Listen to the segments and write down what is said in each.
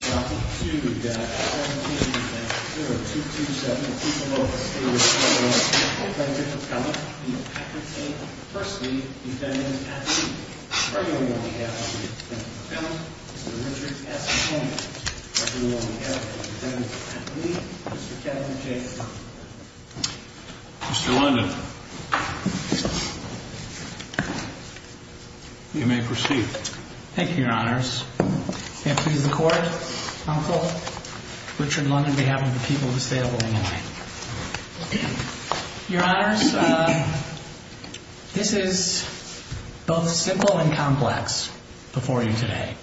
to the people of the state of Oklahoma. Thank you for coming. The appellate state of Pursley defendant, attorney. I hereby order you on behalf of the defendant, attorney, Mr. Richard S. Coleman. I hereby order you on behalf of the defendant, attorney, Mr. Kevin J. Coleman. Mr. London. You may proceed. Thank you, your honors. May it please the court. I'm called. Richard London, on behalf of the people of the state of Illinois. Your honors, this is both simple and complex before you today.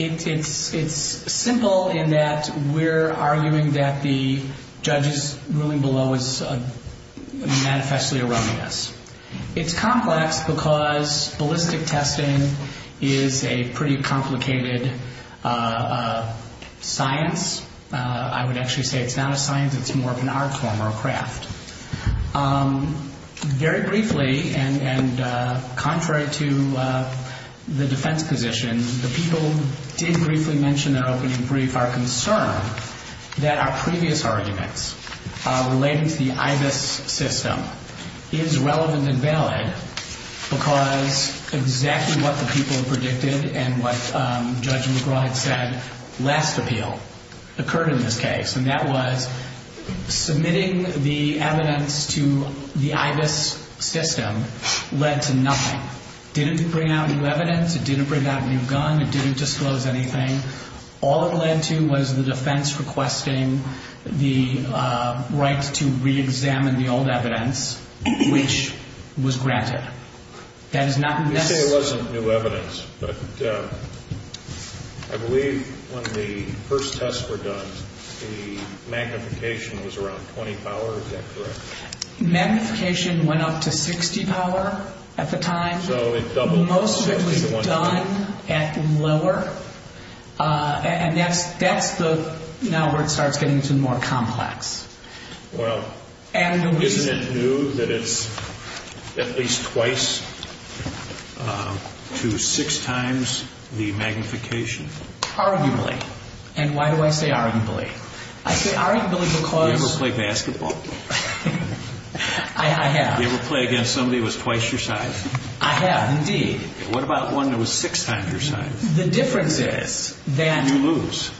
It's simple in that we're arguing that the judge's ruling below is manifestly erroneous. It's complex because ballistic testing is a pretty complicated science. I would actually say it's not a science, it's more of an art form or a craft. Very briefly, and contrary to the defense position, the people did briefly mention in their opening previous arguments relating to the IBIS system is relevant and valid because exactly what the people predicted and what Judge McGraw had said last appeal occurred in this case, and that was submitting the evidence to the IBIS system led to nothing. Didn't bring out new evidence, it didn't bring out a new gun, it didn't disclose anything. All it led to was the defense requesting the right to reexamine the old evidence, which was granted. That is not... You say it wasn't new evidence, but I believe when the first tests were done, the magnification was around 20 power, is that correct? Magnification went up to 60 power at the time. So it doubled. Most of it was done at lower, and that's now where it starts getting to more complex. Well, isn't it new that it's at least twice to six times the magnification? Arguably. And why do I say arguably? I say arguably because... You ever play basketball? I have. You ever play against somebody that was twice your size? I have, indeed. What about one that was six times your size? The difference is that... You lose.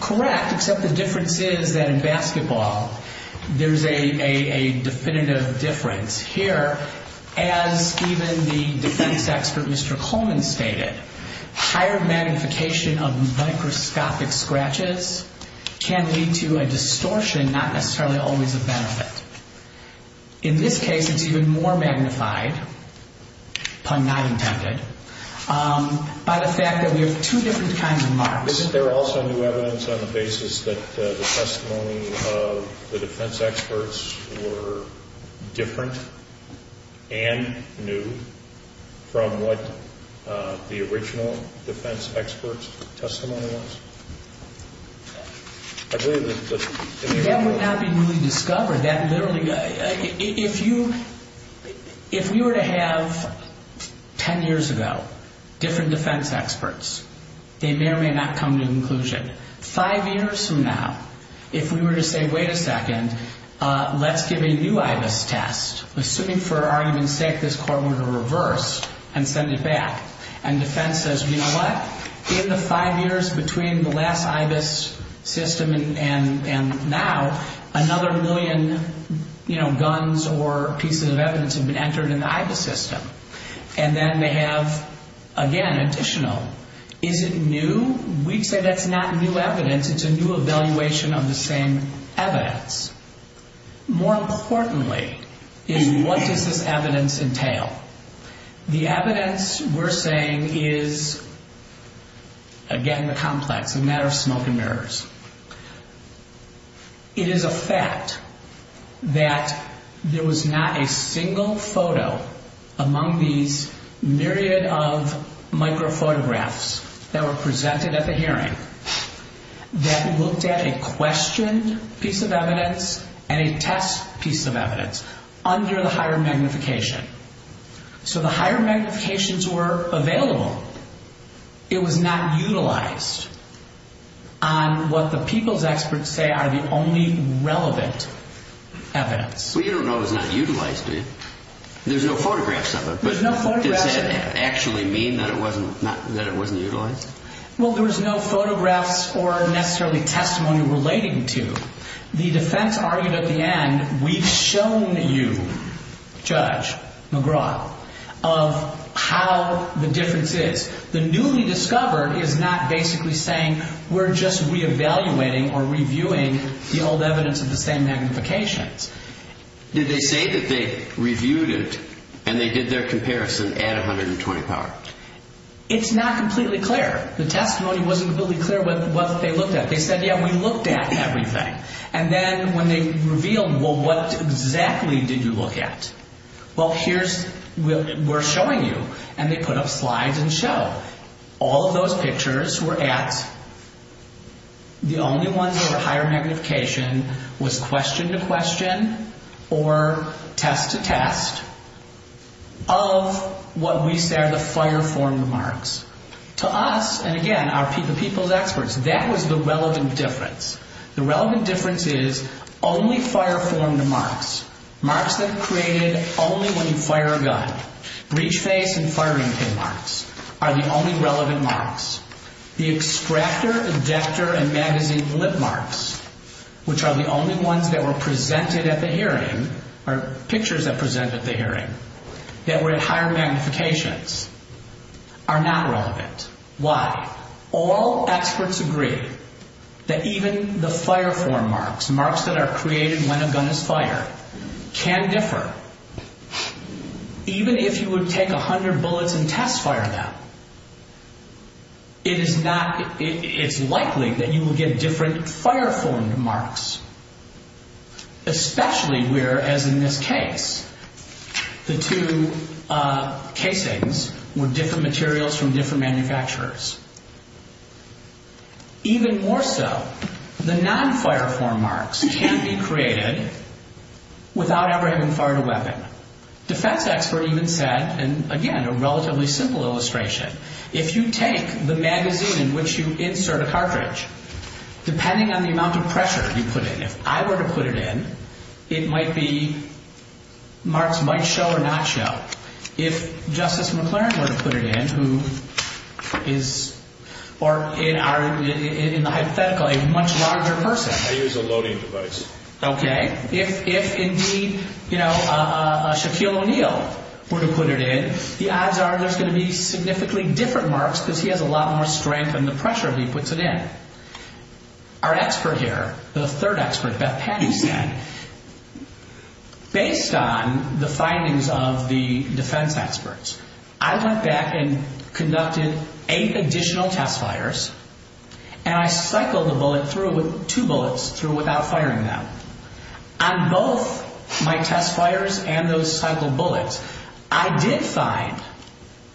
Correct, except the difference is that in basketball, there's a definitive difference. Here, as even the defense expert Mr. Coleman stated, higher magnification of microscopic scratches can lead to a distortion not necessarily always a benefit. In this case, it's even more magnified, pun not intended, by the fact that we have two different kinds of marks. Isn't there also new evidence on that the testimony of the defense experts were different and new from what the original defense experts' testimony was? I believe that... That would not be really discovered. That literally... If you... If we were to have, ten years ago, different defense experts, they may or may not come to inclusion. But five years from now, if we were to say, wait a second, let's give a new IBIS test, assuming for argument's sake this court were to reverse and send it back, and defense says, you know what? In the five years between the last IBIS system and now, another million guns or pieces of evidence have been entered in the IBIS system. And then they have, again, additional. Is it new? We'd say that's not new evidence. It's a new evaluation of the same evidence. More importantly, is what does this evidence entail? The evidence we're saying is, again, the complex, a matter of smoke and mirrors. It is a fact that there was not a single photo among these myriad of micro photographs that were presented at the hearing that looked at a questioned piece of evidence and a test piece of evidence under the higher magnification. So the higher magnifications were available. It was not utilized on what the people's experts say are the only relevant evidence. Well, you don't know it was not utilized, do you? There's no photographs of it, but does that actually mean that it wasn't utilized? Well, there was no photographs or necessarily testimony relating to it. The defense argued at the end, we've shown you, Judge McGraw, of how the difference is. The newly discovered is not basically saying we're just reevaluating or reviewing the old evidence of the same magnifications. Did they say that they reviewed it and they did their comparison at 520 power? It's not completely clear. The testimony wasn't really clear what they looked at. They said, yeah, we looked at everything. And then when they revealed, well, what exactly did you look at? Well, here's, we're showing you. And they put up slides and show. All of those pictures were at, the only ones that were higher magnification was question to question or test to test of what we say are the fire-formed marks. To us, and again, the people's experts, that was the relevant difference. The relevant difference is only fire-formed marks, marks that are created only when you fire a gun. Breach face and firing pin marks are the only relevant marks. The extractor, ejector, and magazine lip marks, which are the only ones that were presented at the hearing, or pictures that presented at the hearing, that were at higher magnifications, are not relevant. Why? All experts agree that even the fire-formed marks, marks that are created when a gun is fired, can differ. Even if you would take a hundred bullets and test fire them, it is not, it's likely that you will get different fire-formed marks. Especially where, as in this case, the two casings were different materials from different manufacturers. Even more so, the non-fire-formed marks can be created without ever having fired a weapon. A defense expert even said, and again, a relatively simple illustration, if you take the magazine in which you insert a cartridge, depending on the amount of pressure you put in, if I were to put it in, it might be, marks might show or not show. If Justice McLaren were to put it in, who is, or in our, in the hypothetical, a much larger person. I use a loading device. Okay. If indeed, you know, Shaquille O'Neal were to put it in, the odds are there's going to be significantly different marks because he has a lot more strength than the pressure he puts it in. Our expert here, the third expert, Beth Penny, said, based on the findings of the defense experts, I went back and conducted eight additional test fires, and I cycled the bullet through with two bullets through without firing them. On both my test fires and those cycled bullets, I did find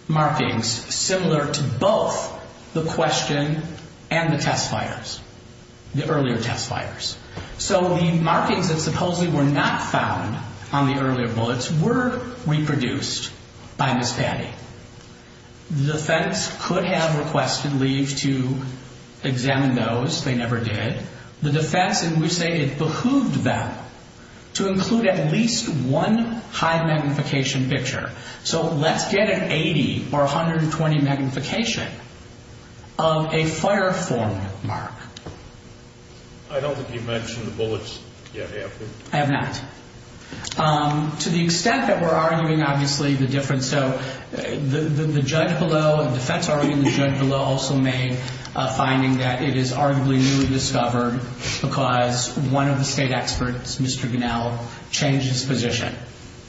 markings similar to both the question and the test fires, the earlier test fires. So the markings that supposedly were not found on the earlier bullets were reproduced by Ms. Penny. The defense could have requested leave to examine those. They never did. The defense, and we say it behooved them to include at least one high magnification picture. So let's get an 80 or 120 magnification of a fire form mark. I don't think you've mentioned the bullets yet, have you? I have not. To the extent that we're arguing obviously the difference, so the judge below, the defense arguing, the judge below also made a finding that it is arguably newly discovered because one of the state experts, Mr. Gunnell, changed his position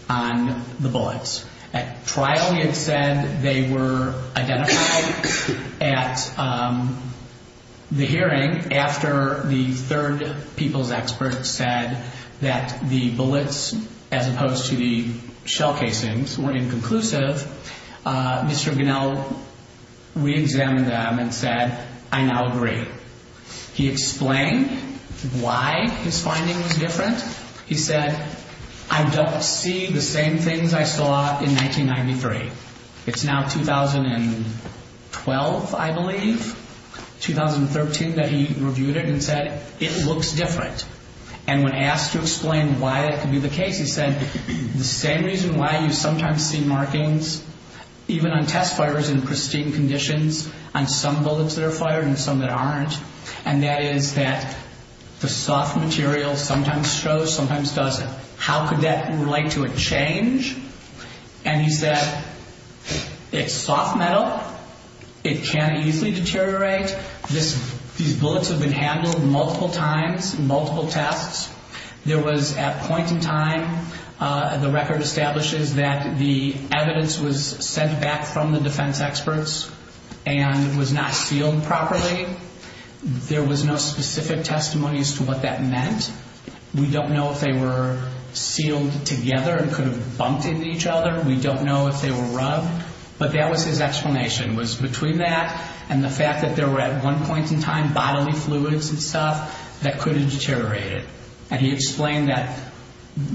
on the bullets. At trial he had said they were different. different. And then after the third people's expert said that the bullets as opposed to the shell casings were inconclusive, Mr. Gunnell reexamined them and said, I now agree. He explained why his finding was different. He said, I don't see the same things I saw in 1993. It's now 2012, I believe, 2013 that he reviewed it and said it looks different. And when asked to explain why it could be the case, he said the same reason why you sometimes see markings even on test fires in pristine conditions on some bullets that are fired and some that aren't, and that is that the soft material sometimes shows, sometimes doesn't. How could that relate to a change? And he said, it's soft metal. It can easily deteriorate. These bullets have been handled multiple times, multiple tests. There was at point in time, the record establishes that the evidence was sent back from the defense experts and was not sealed properly. There was no specific testimony as to what that meant. We don't know if they were sealed together and could have bumped into each other. We don't know if they were rubbed. But that was his explanation, was between that and the fact that there were at one point in time bodily fluids and stuff that could have deteriorated. And he explained that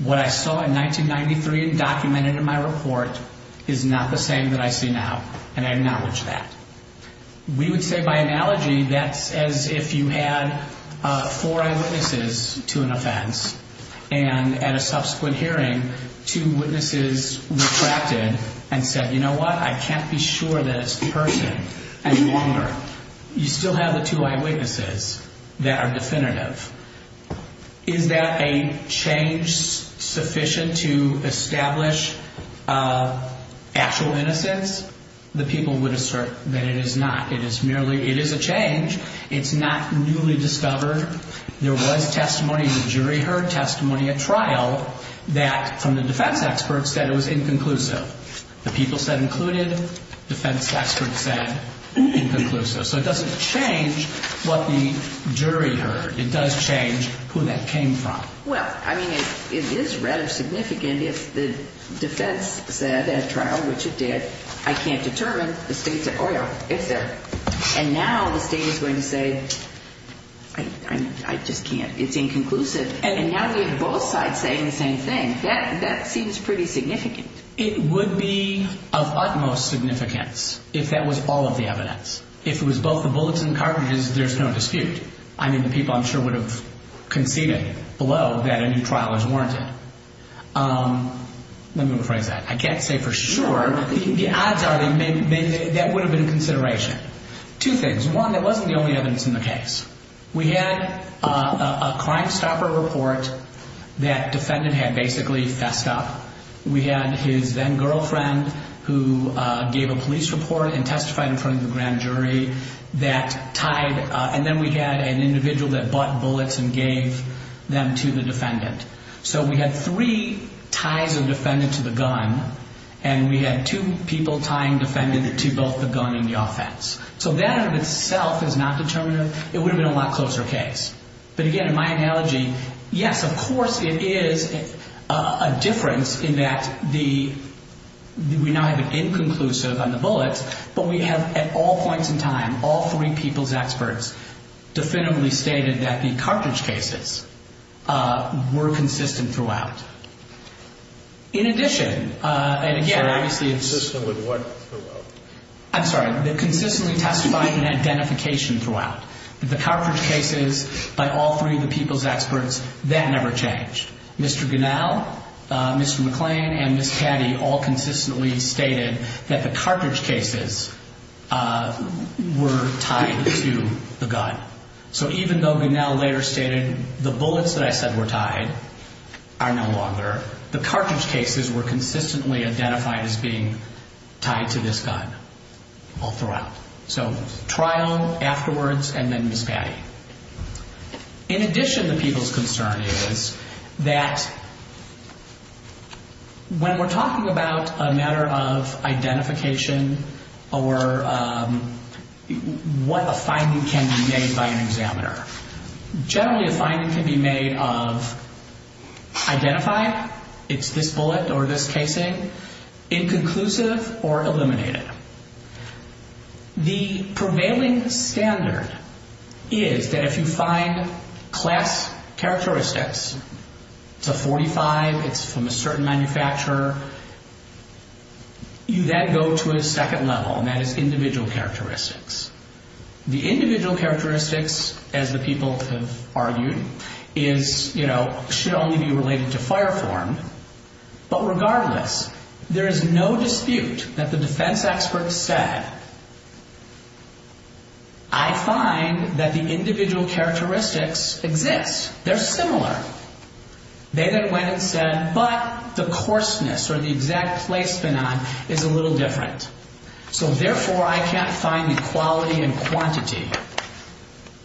what I saw in 1993 and documented in my report is not the same that I see now. And I acknowledge that. We would say by analogy that's as if you had four eyewitnesses to an offense and at a subsequent hearing two witnesses retracted and said, you know what, I can't be sure that it's the person any longer. You still have the two eyewitnesses that are definitive. Is that a change sufficient to establish actual innocence? The people would assert that it is not. It's not newly discovered. There was testimony, the jury heard testimony at trial. That from the defense experts said it was inconclusive. The people said included. Defense experts said inconclusive. So it doesn't change what the jury heard. It does change who that came from. Well, I mean, it is rather significant if the defense said at trial, which it did, I can't determine the state's at oil, et cetera. And now the state is going to say, I just can't. It's inconclusive. And now we have both sides saying the same thing. That seems pretty significant. It would be of utmost significance if that was all of the evidence. If it was both the bullets and cartridges, there's no dispute. I mean, the people I'm sure would have conceded below that a new trial is warranted. Let me rephrase that. I can't say for sure, but the odds are that would have been consideration. Two things. One, that wasn't the only evidence in the case. We had a crime stopper report that defendant had basically fessed up. We had his then-girlfriend who gave a police report and testified in front of the grand jury that tied. And then we had an individual that bought bullets and gave them to the defendant. So we had three ties of defendant to the gun, and we had two people tying defendant to both the gun and the offense. So that in itself is not even a lot closer case. But again, in my analogy, yes, of course it is a difference in that the we now have an inconclusive on the bullets, but we have at all points in time all three people's experts definitively stated that the cartridge cases were consistent throughout. In addition, and again, obviously it's... I'm sorry, consistently testified in identification throughout. The cartridge cases by all three of the people's experts, that never changed. Mr. Gunnell, Mr. McClain, and Ms. Caddy all consistently stated that the cartridge cases were tied to the gun. So even though Gunnell later stated the bullets that I said were tied are no longer, the cartridge cases were consistently identified as being tied to this gun all throughout. So trial, afterwards, and then Ms. Caddy. In addition, the people's concern is that when we're talking about a matter of identification or what a finding can be made by an examiner, generally a finding can be made of identify, it's this bullet or this casing, inconclusive or eliminated. The prevailing standard is that if you find class characteristics, it's a .45, it's from a certain manufacturer, you then go to a second level, and that is individual characteristics. The individual characteristics, as the people have argued, is, you know, should only be related to fire form, but regardless, there is no dispute that the defense experts said, I find that the individual characteristics exist, they're similar. They then went and said, but the coarseness, or the exact placement on, is a little different. So therefore, I can't find the quality and quantity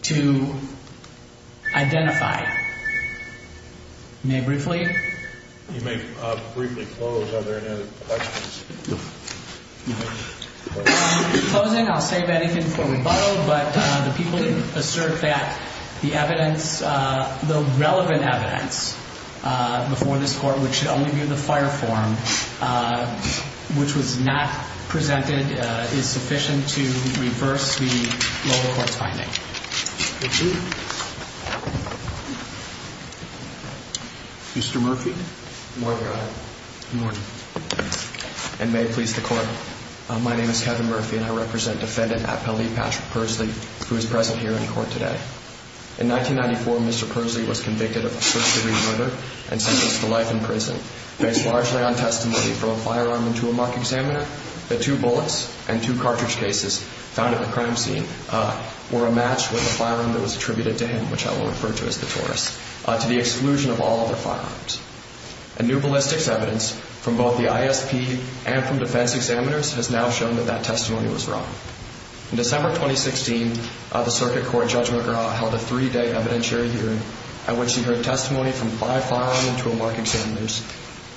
to identify. May I briefly? You may briefly close. Are there any other questions? Closing, I'll save anything for rebuttal, but the people assert that the evidence, the relevant evidence before this Court, which should only be the fire form, which was not presented, is sufficient to reverse the lower court's finding. Mr. Murphy? Good morning, Your Honor. Good morning. And may it please the Court, my name is Kevin Murphy, and I represent defendant Patrick Pursley, who is present here in court today. In 1994, Mr. Pursley was convicted of a first-degree murder and sentenced to life in prison. Based largely on testimony from a firearm and tool-mark examiner, the two bullets and two cartridge cases found at the crime scene were a match with a firearm that was attributed to him, which I will refer to as the Taurus, to the exclusion of all other firearms. A new ballistics evidence from both the ISP and from defense examiners has now shown that that testimony was wrong. In December 2016, the Circuit Court Judge McGraw held a three-day evidentiary hearing at which he heard testimony from five firearm and tool-mark examiners,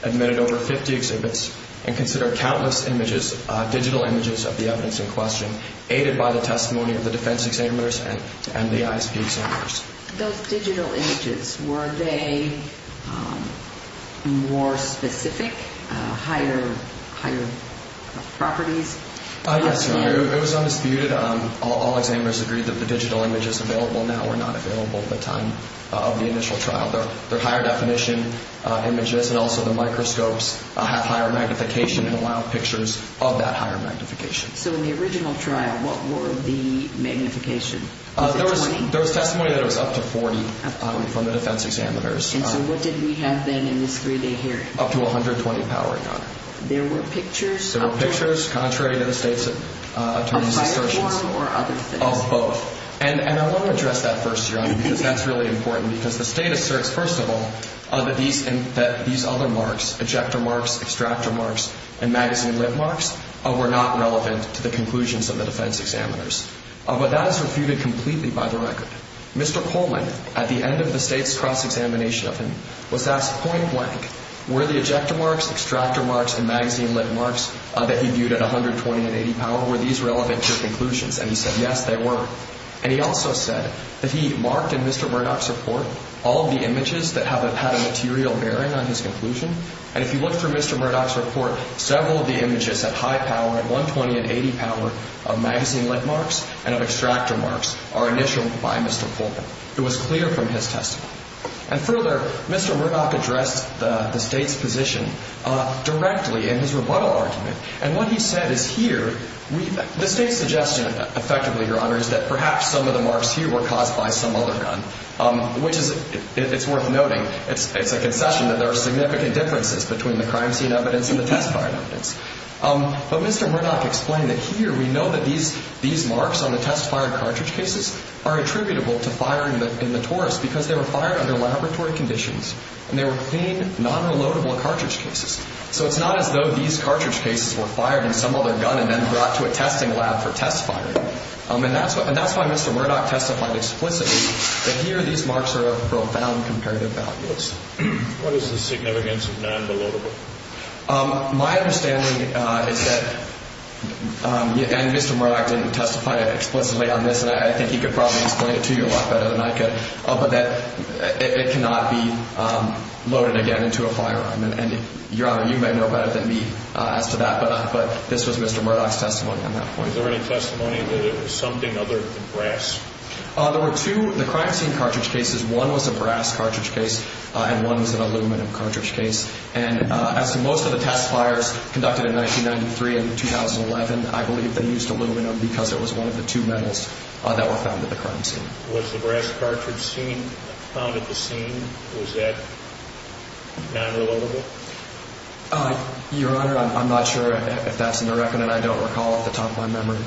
admitted over 50 exhibits, and considered countless images, digital images of the evidence in question, aided by the testimony of the defense examiners and the ISP examiners. Those digital images, were they more specific? Higher properties? It was undisputed. All examiners agreed that the digital images available now were not available at the time of the initial trial. Their higher definition images and also the microscopes have higher magnification and allowed pictures of that higher magnification. So in the original trial, what were the magnification was it 20? There was testimony that was up to 40 from the defense examiners. And so what did we have then in this three-day hearing? Up to 120 powering up. There were pictures of? There were pictures, contrary to the state's attorney's assertions, of both. And I want to address that first, because that's really important because the state asserts, first of all, that these other marks, ejector marks, extractor marks, and magazine lip marks, were not relevant to the conclusions of the defense examiners. But that is refuted completely by the record. Mr. Coleman, at the end of the state's cross-examination of him, was asked point-blank, were the ejector marks, extractor marks, and magazine lip marks that he viewed at 120 and 80 power, were these relevant to conclusions? And he said, yes, they were. And he also said that he marked in Mr. Murdoch's report all of the images that have had a material bearing on his conclusion. And if you look through Mr. Murdoch's report, several of the images at high power, at 120 and 80 power, of magazine lip marks and of extractor marks, are initialed by Mr. Coleman. It was clear from his testimony. And further, Mr. Murdoch addressed the State's position directly in his rebuttal argument. And what he said is here, the State's suggestion, effectively, Your Honor, is that perhaps some of the marks here were caused by some other gun, which is, it's worth noting, it's a concession that there are significant differences between the crime scene evidence and the test And Mr. Murdoch explained that here, we know that these marks on the test-fired cartridge cases are attributable to firing in the Taurus because they were fired under laboratory conditions, and they were clean, non-reloadable cartridge cases. So it's not as though these cartridge cases were fired in some other gun and then brought to a testing lab for test firing. And that's why Mr. Murdoch testified explicitly that here, these marks are of profound comparative value. What is the significance of non-reloadable? My understanding is that and Mr. Murdoch didn't testify explicitly on this, and I think he could probably explain it to you a lot better than I could, but that it cannot be loaded again into a firearm. And Your Honor, you may know better than me as to that, but this was Mr. Murdoch's testimony on that point. Is there any testimony that it was something other than brass? There were two crime scene cartridge cases. One was a brass cartridge case, and one was an aluminum cartridge case. And as to most of the test fires conducted in 1993 and 2011, I believe they used aluminum because it was one of the two metals that were found at the crime scene. Was the brass cartridge seen found at the scene? Was that non-reloadable? Your Honor, I'm not sure if that's in the record, and I don't recall off the top of my memory.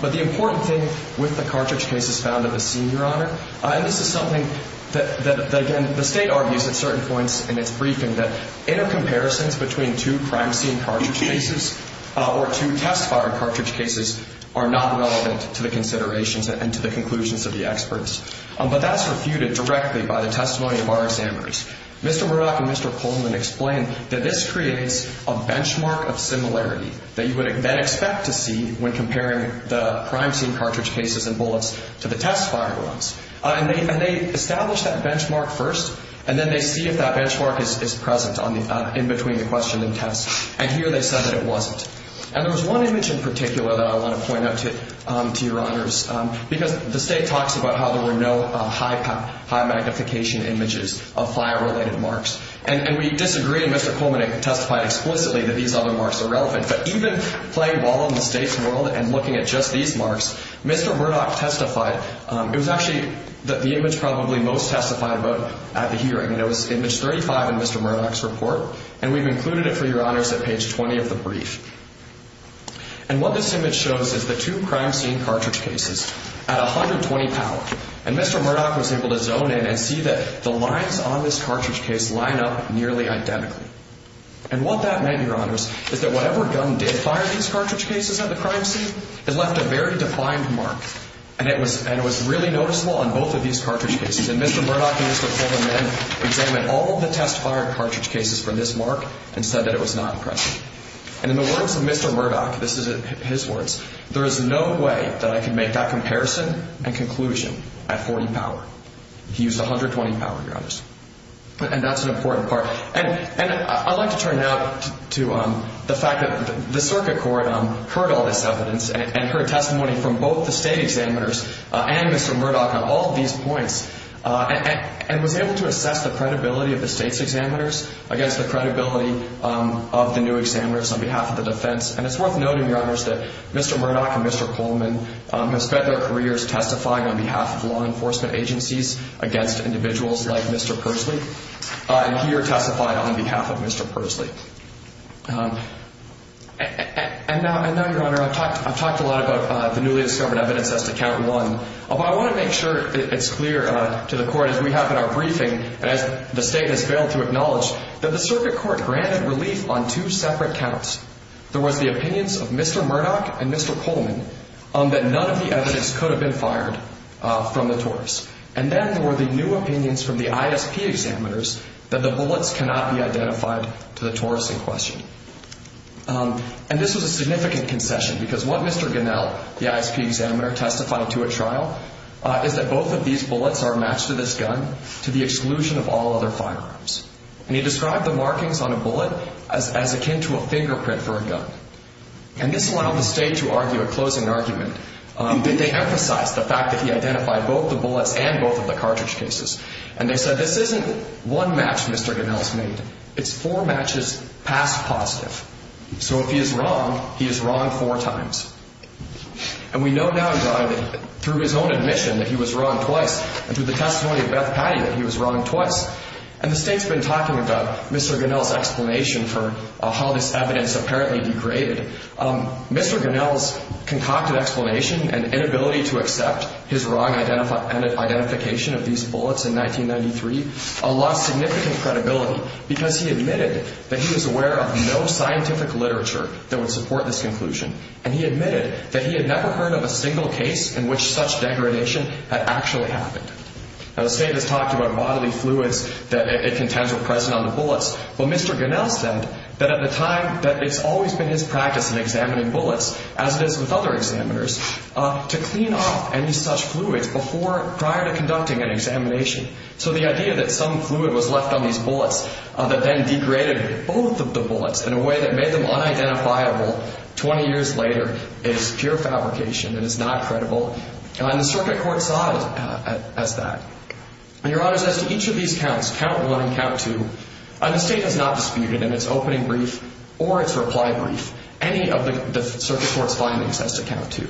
But the important thing with the cartridge cases found at the scene, Your Honor, and this is something that the State argues at certain points in its briefing, that intercomparisons between two crime scene cartridge cases or two test fire cartridge cases are not relevant to the considerations and to the conclusions of the experts. But that's refuted directly by the testimony of our examiners. Mr. Murdoch and Mr. Coleman explained that this creates a benchmark of similarity that you would then expect to see when comparing the crime scene cartridge cases and bullets to the test fire ones. And they established that benchmark first, and then they see if that benchmark is present in between the question and test. And here they said that it wasn't. And there was one image in particular that I want to point out to Your Honors, because the State talks about how there were no high-magnification images of fire-related marks. And we disagree, and Mr. Coleman testified explicitly that these other marks are relevant. But even playing ball in the State's world and looking at just these marks, Mr. Murdoch testified. It was actually the image probably most testified about at the hearing. And it was image 35 in Mr. Murdoch's report. And we've included it for Your Honors at page 20 of the brief. And what this image shows is the two crime scene cartridge cases at 120 power. And Mr. Murdoch was able to zone in and see that the lines on this cartridge case line up nearly identically. And what that meant, Your Honors, is that whatever gun did fire these cartridge cases at the crime scene it left a very defined mark. And it was really noticeable on both of these cartridge cases. And Mr. Murdoch and Mr. Coleman then examined all of the test-fired cartridge cases for this mark and said that it was not impressive. And in the words of Mr. Murdoch, this is his words, there is no way that I can make that comparison and conclusion at 40 power. He used 120 power, Your Honors. And that's an important part. And I'd like to turn now to the fact that the state examiners and heard testimony from both the state examiners and Mr. Murdoch on all of these points and was able to assess the credibility of the state's examiners against the credibility of the new examiners on behalf of the defense. And it's worth noting, Your Honors, that Mr. Murdoch and Mr. Coleman have spent their careers testifying on behalf of law enforcement agencies against individuals like Mr. Pursley. And here testified on behalf of Mr. Pursley. And now, Your Honor, I've talked a lot about the newly discovered evidence as to count one, but I want to make sure it's clear to the court as we have in our briefing and as the state has failed to acknowledge that the circuit court granted relief on two separate counts. There was the opinions of Mr. Murdoch and Mr. Coleman on that none of the evidence could have been fired from the torts. And then there were the new opinions from the ISP examiners that the bullets cannot be identified to the torts in question. And this was a significant concession because what Mr. Ganell, the ISP examiner, testified to at trial is that both of these bullets are matched to this gun to the exclusion of all other firearms. And he described the markings on a bullet as akin to a fingerprint for a gun. And this allowed the state to argue a closing argument. They emphasized the fact that he identified both the bullets and both of the cartridge cases. And they said this isn't one match Mr. Ganell's made. It's four matches past positive. So if he is wrong, he is wrong four times. And we know now, John, that through his own admission that he was wrong twice and through the testimony of Beth Patti that he was wrong twice and the state's been talking about Mr. Ganell's explanation for how this evidence apparently degraded. Mr. Ganell's concocted explanation and inability to accept his wrong identification of these bullets in significant credibility because he admitted that he was aware of no scientific literature that would support this conclusion. And he admitted that he had never heard of a single case in which such degradation had actually happened. Now the state has talked about bodily fluids that it contends were present on the bullets, but Mr. Ganell said that at the time that it's always been his practice in examining bullets, as it is with other examiners, to clean off any such fluids prior to conducting an examination. So the idea that some fluid was left on these bullets that then degraded both of the bullets in a way that made them unidentifiable 20 years later is pure fabrication and is not credible. And the circuit court saw it as that. And, Your Honors, as to each of these counts, count one and count two, the state has not disputed in its opening brief or its reply brief any of the circuit court's findings as to count two.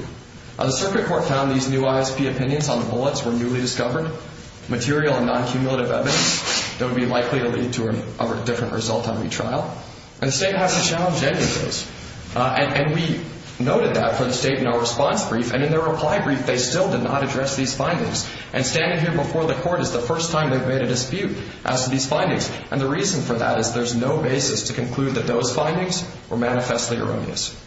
The circuit court found these new ISP opinions on the bullets were newly discovered, material and non-cumulative evidence that would be likely to lead to a different result on retrial. And the state hasn't challenged any of those. And we noted that for the state in our response brief, and in their reply brief, they still did not address these findings. And standing here before the court is the first time they've made a dispute as to these findings. And the reason for that is there's no basis to conclude that those findings were manifestly erroneous.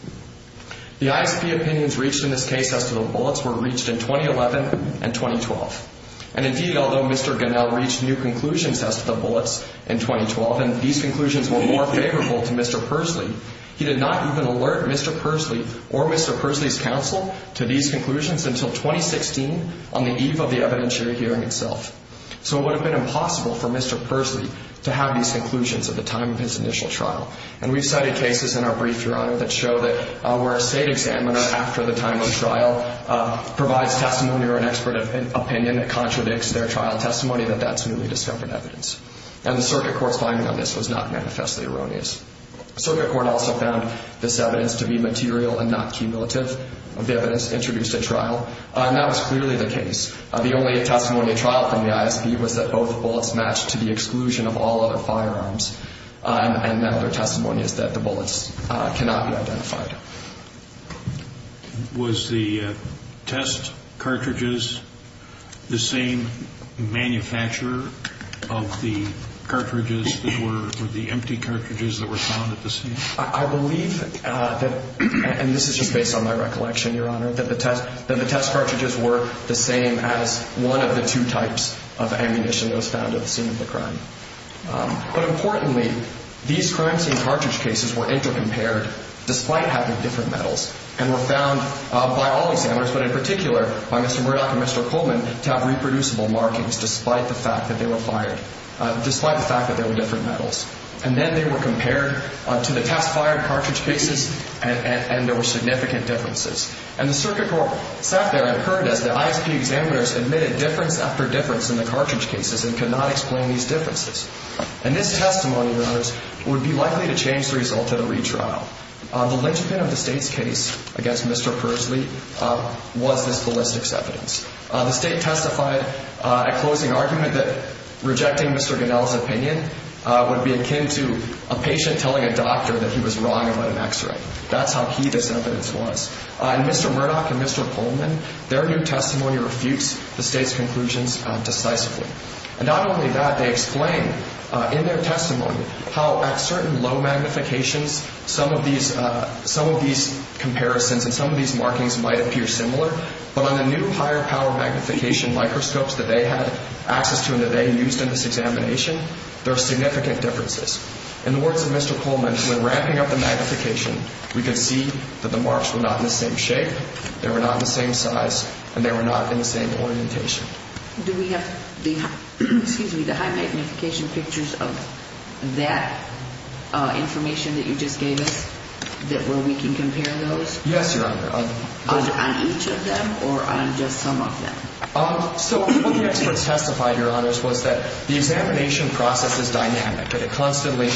The ISP opinions reached in this case as to the bullets were reached in 2011 and 2012. And indeed, although Mr. Gunnell reached new conclusions as to the bullets in 2012, and these conclusions were more favorable to Mr. Pursley, he did not even alert Mr. Pursley or Mr. Pursley's counsel to these conclusions until 2016 on the eve of the evidentiary hearing itself. So it would have been impossible for Mr. Pursley to have these conclusions at the time of his initial trial. And we've cited cases in our brief, Your Honor, that show that where a state examiner after the time of the trial provides testimony or an expert opinion that contradicts their trial testimony, that that's newly discovered evidence. And the circuit court's finding on this was not manifestly erroneous. The circuit court also found this evidence to be material and not cumulative. The evidence introduced at trial, and that was clearly the case. The only testimony at trial from the ISP was that both bullets matched to the exclusion of all other firearms. And now their testimony is that the bullets cannot be matched. Was the test cartridges the same manufacturer of the cartridges that were, or the empty cartridges that were found at the scene? I believe that, and this is just based on my recollection, Your Honor, that the test cartridges were the same as one of the two types of ammunition that was found at the scene of the crime. But importantly, these crime scene cartridge cases were intercompared despite having different metals and were found by all examiners, but in particular by Mr. Murdock and Mr. Coleman, to have reproducible markings despite the fact that they were fired, despite the fact that they were different metals. And then they were compared to the test fired cartridge cases and there were significant differences. And the circuit court sat there and heard as the ISP examiners admitted difference after difference in the cartridge cases and could not explain these differences. And this testimony, Your Honors, would be the legitimate of the State's case against Mr. Persley was this ballistics evidence. The State testified at closing argument that rejecting Mr. Goodell's opinion would be akin to a patient telling a doctor that he was wrong about an x-ray. That's how key this evidence was. And Mr. Murdock and Mr. Coleman, their new testimony refutes the State's conclusions decisively. And not only that, they explain in their testimony how at certain low magnifications some of these comparisons and some of these markings might appear similar but on the new higher power magnification microscopes that they had access to and that they used in this examination there are significant differences. In the words of Mr. Coleman, when ramping up the magnification, we could see that the marks were not in the same shape, they were not the same size, and they were not in the same orientation. Do we have the high magnification pictures of that information that you just gave us, where we can compare those? Yes, Your Honor. On each of them or on just some of them? So what the experts testified, Your Honor, was that the examination process is dynamic and it constantly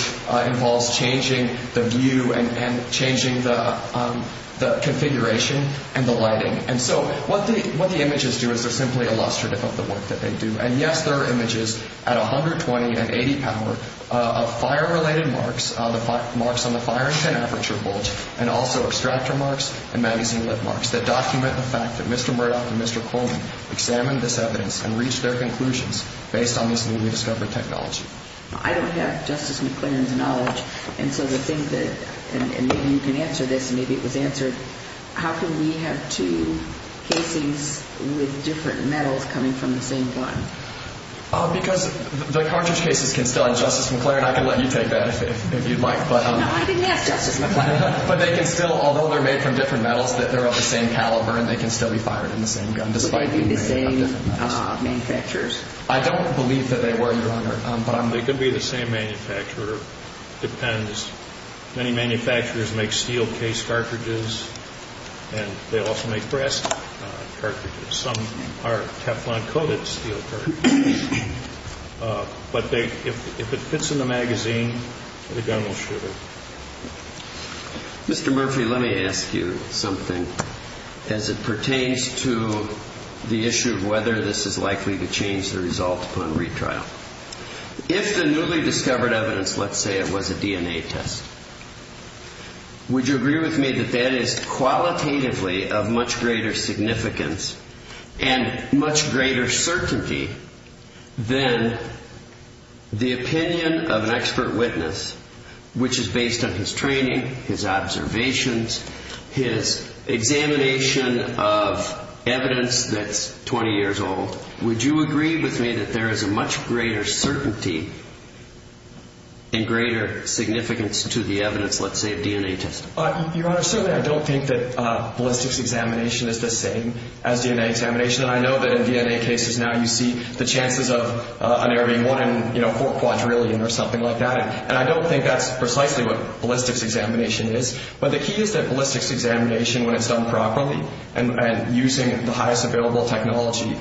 involves changing the view and changing the configuration and the lighting. And so what the images do is they're simply illustrative of the work that they do. And yes, there are images at 120 and 80 power of fire-related marks, marks on the firing pin aperture bulge, and also extractor marks and magazine lip marks that document the fact that Mr. Murdoch and Mr. Coleman examined this evidence and reached their conclusions based on this newly discovered technology. I don't have Justice McClaren's knowledge, and so the thing that and maybe you can answer this, maybe it was answered, how can we have two casings with different metals coming from the same one? Because the cartridge cases can still, and Justice McClaren, I can let you take that if you'd like. No, I didn't ask Justice McClaren. But they can still, although they're made from different metals, that they're of the same caliber and they can still be fired in the same gun despite being made of different metals. Would they be the same manufacturers? I don't believe that they were, Your Honor. They could be the same manufacturer. It depends. Many manufacturers make steel case cartridges and they also make brass cartridges. Some are Teflon coated steel cartridges. But if it fits in the magazine, the gun will shoot it. Mr. Murphy, let me ask you something as it pertains to the issue of whether this is likely to change the result upon retrial. If the newly discovered evidence, let's say it was a DNA test, would you agree with me that that is qualitatively of much greater significance and much greater certainty than the opinion of an expert witness which is based on his training, his observations, his examination of evidence that's 20 years old, would you agree with me that there is a much greater certainty and greater significance to the evidence, let's say, of DNA testing? Your Honor, certainly I don't think that ballistics examination is the same as DNA examination. And I know that in DNA cases now you see the chances of an ARV1 in 4 quadrillion or something like that. And I don't think that's precisely what ballistics examination is. But the key is that ballistics examination, when it's done properly and using the highest available technology,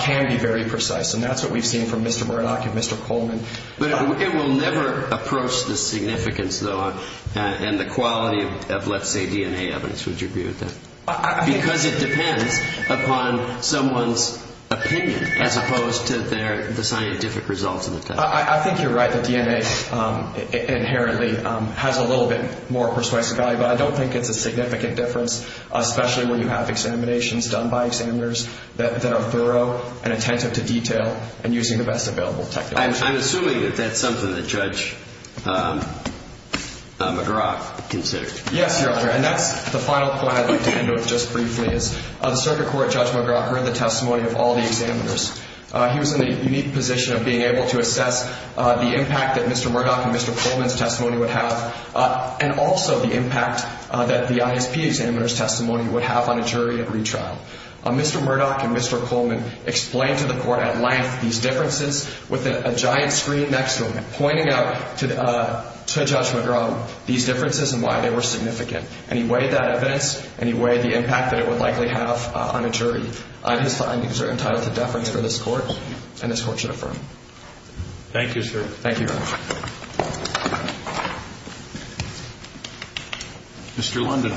can be very precise. And that's what we've seen from Mr. Murdock and Mr. Coleman. It will never approach the significance and the quality of, let's say, DNA evidence, would you agree with that? Because it depends upon someone's opinion as opposed to the scientific results of the test. I think you're right that DNA inherently has a little bit more persuasive value. But I don't think it's a significant difference, especially when you have examinations done by examiners that are thorough and attentive to detail and using the best available technology. I'm assuming that that's something that Judge McGraw considered. Yes, Your Honor. And that's the final point I'd like to end with just briefly is the Circuit Court Judge McGraw heard the testimony of all the examiners. He was in the unique position of being able to assess the impact that Mr. Murdock and Mr. Coleman's testimony would have and also the impact that the ISP examiner's testimony would have on a jury at retrial. Mr. Murdock and Mr. Coleman explained to the Court at length these differences with a giant screen next to him pointing out to Judge McGraw these differences and why they were significant. And he weighed that evidence and he weighed the impact that it would likely have on a jury. His findings are entitled to deference for this Court and this Court should affirm. Thank you, sir. Thank you, Your Honor. Mr. London.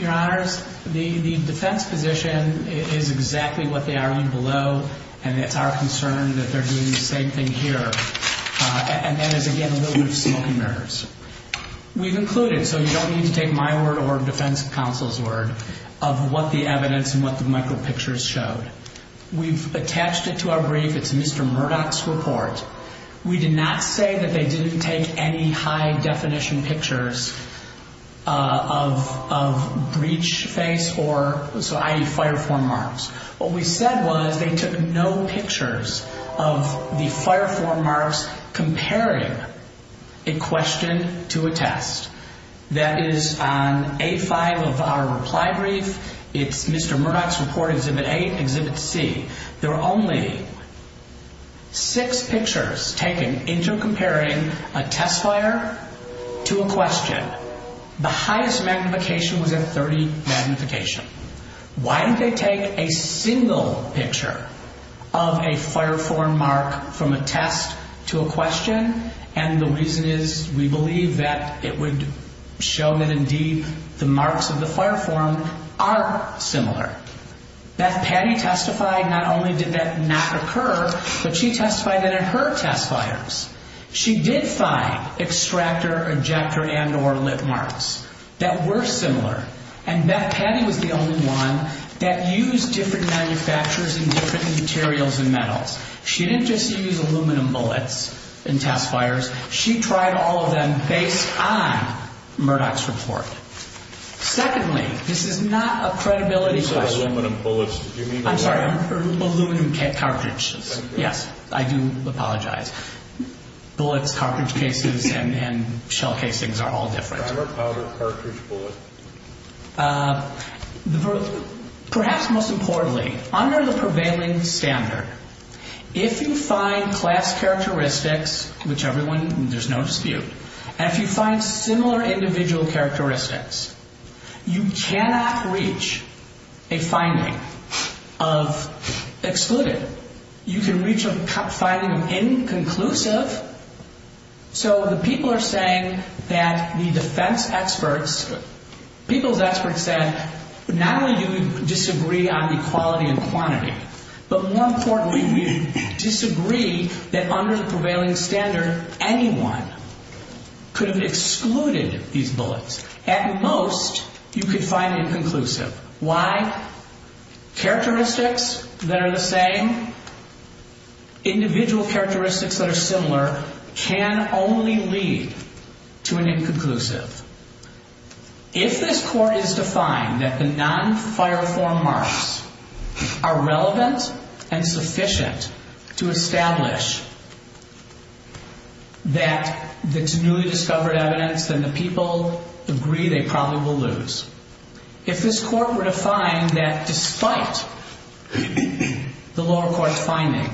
Your Honors, the defense position is exactly what they are on below and it's our concern that they're doing the same thing here and that is again a little bit of smoke and mirrors. We've included, so you don't need to take my word or a defense counsel's word, of what the evidence and what the micro-pictures showed. We've attached it to our brief. It's Mr. Murdock's report. We did not say that they didn't take any high-definition pictures of breach face or i.e. fire-form marks. What we said was they took no pictures of the fire-form marks comparing a question to a test. That is on A5 of our reply brief. It's Mr. Murdock's report, Exhibit 8, Exhibit C. There are only six pictures taken into comparing a test fire to a question. The highest magnification was at 30 magnification. Why did they take a single picture of a fire-form mark from a test to a question? The reason is we believe that it would show that indeed the marks of the fire-form are similar. Beth Patty testified not only did that not occur, but she testified that in her test fires she did find extractor, ejector and or lit marks that were similar and Beth Patty was the only one that used different manufacturers and different materials and metals. She didn't just use aluminum bullets in test fires. She tried all of them based on Murdock's report. Secondly, this is not a credibility question. I'm sorry. Aluminum cartridges. Yes, I do apologize. Bullets, cartridge cases and shell casings are all different. Perhaps most importantly, under the prevailing standard, if you find class characteristics, which everyone, there's no dispute, and if you find similar individual characteristics, you cannot reach a finding of excluded. You can reach a finding of inconclusive. So the people are saying that the defense experts, people's experts said not only do you disagree on equality and quantity, but more importantly, we disagree that under the prevailing standard anyone could have excluded these bullets. At most, you could find inconclusive. Why? Characteristics that are the same, individual characteristics that are similar can only lead to an inconclusive. If this Court is to find that the non-fire-form marks are relevant and sufficient to establish that it's newly discovered evidence, then the people agree they probably will lose. If this Court were to find that despite the lower court's finding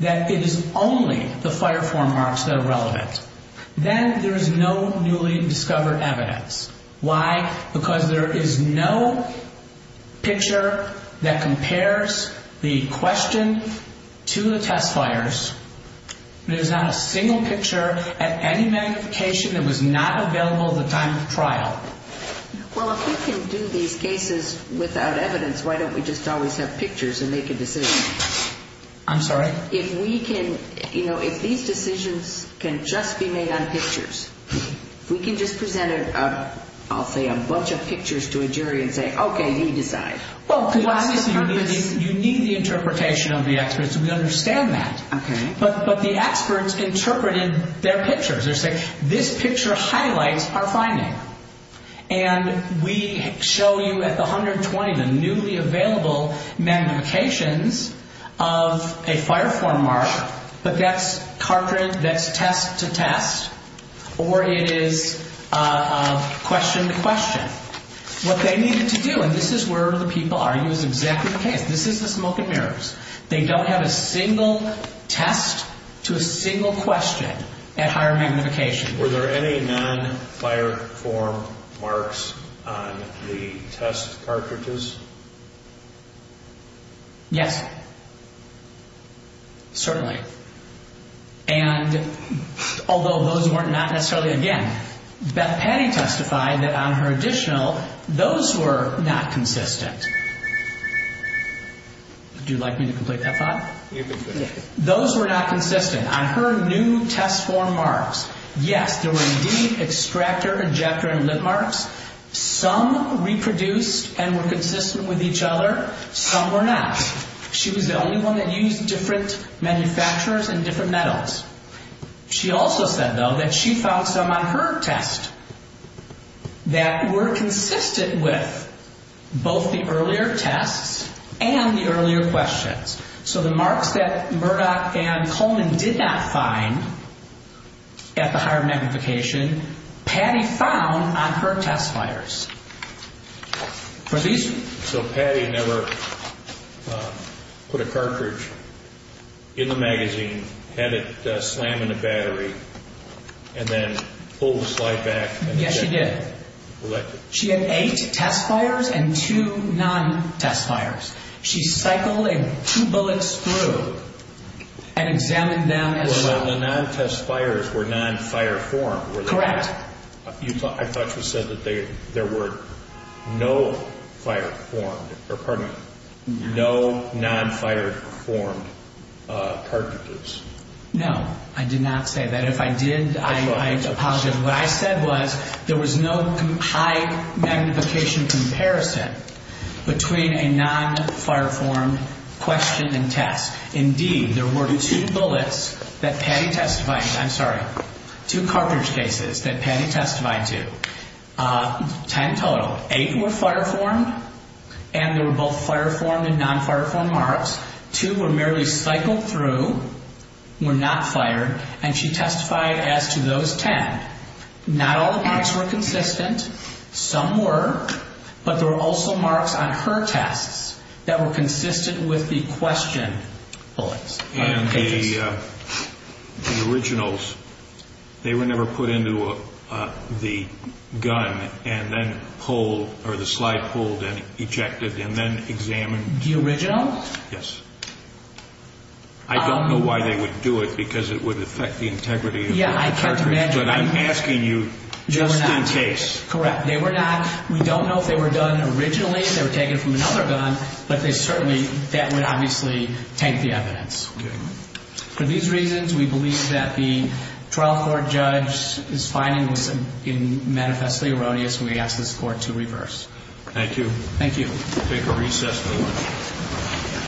that it is only the fire-form marks that are relevant, then there is no newly discovered evidence. Why? Because there is no picture that compares the question to the test fires. There is not a single picture at any magnification that was not available at the time of trial. Well, if we can do these cases without evidence, why don't we just always have pictures and make a decision? I'm sorry? If we can, you know, if these decisions can just be made on pictures, if we can just present a, I'll say, a bunch of pictures to a jury and say, okay, you decide. Well, because obviously you need the interpretation of the experts and we understand that. Okay. But the experts interpret in their pictures. They say, this picture highlights our finding. And we show you at the 120 the newly available magnifications of a fire-form mark, but that's test-to-test or it is question-to-question. What they needed to do, and this is where the people argue is exactly the case. This is the smoke and mirrors. They don't have a single test to a single question at higher magnification. Were there any non-fire-form marks on the test cartridges? Yes. Certainly. And although those were not necessarily, again, Beth Petty testified that on her additional, those were not consistent. Would you like me to complete that thought? You can finish it. Those were not consistent. On her new test-form marks, yes, there were indeed extractor, ejector, and lip marks. Some reproduced and were consistent with each other. Some were not. She was the only one that used different manufacturers and different metals. She also said, though, that she found some on her test that were consistent with both the earlier tests and the earlier questions. So the marks that Murdoch and Coleman did not find at the higher magnification, Patty found on her test fires. So Patty never put a cartridge in the magazine, had it slam in the battery, and then pulled the slide back? Yes, she did. She had eight test fires and two non- test fires. She pulled two bullets through and examined them. The non-test fires were non-fire-formed. Correct. I thought you said that there were no non-fire-formed cartridges. No, I did not say that. If I did, I apologize. What I said was there was no high magnification comparison between a non-fire-formed question and test. Indeed, there were two bullets that Patty testified to. I'm sorry. Two cartridge cases that Patty testified to. Ten total. Eight were fire-formed and they were both fire-formed and non-fire-formed marks. Two were merely cycled through, were not fired, and she testified as to those ten. Not all the marks were consistent. Some were, but there were also marks on her tests that were consistent with the question bullets. And the originals, they were never put into the gun and then pulled, or the slide pulled and ejected and then examined. The original? Yes. I don't know why they would do it because it would affect the integrity of the cartridge, but I'm asking you just in case. Correct. They were not, we don't know if they were done originally, if they were taken from another gun, but they certainly, that would obviously taint the evidence. For these reasons, we believe that the trial court judge is finding this manifestly erroneous and we ask this court to reverse. Thank you. Thank you. We'll take a recess for lunch.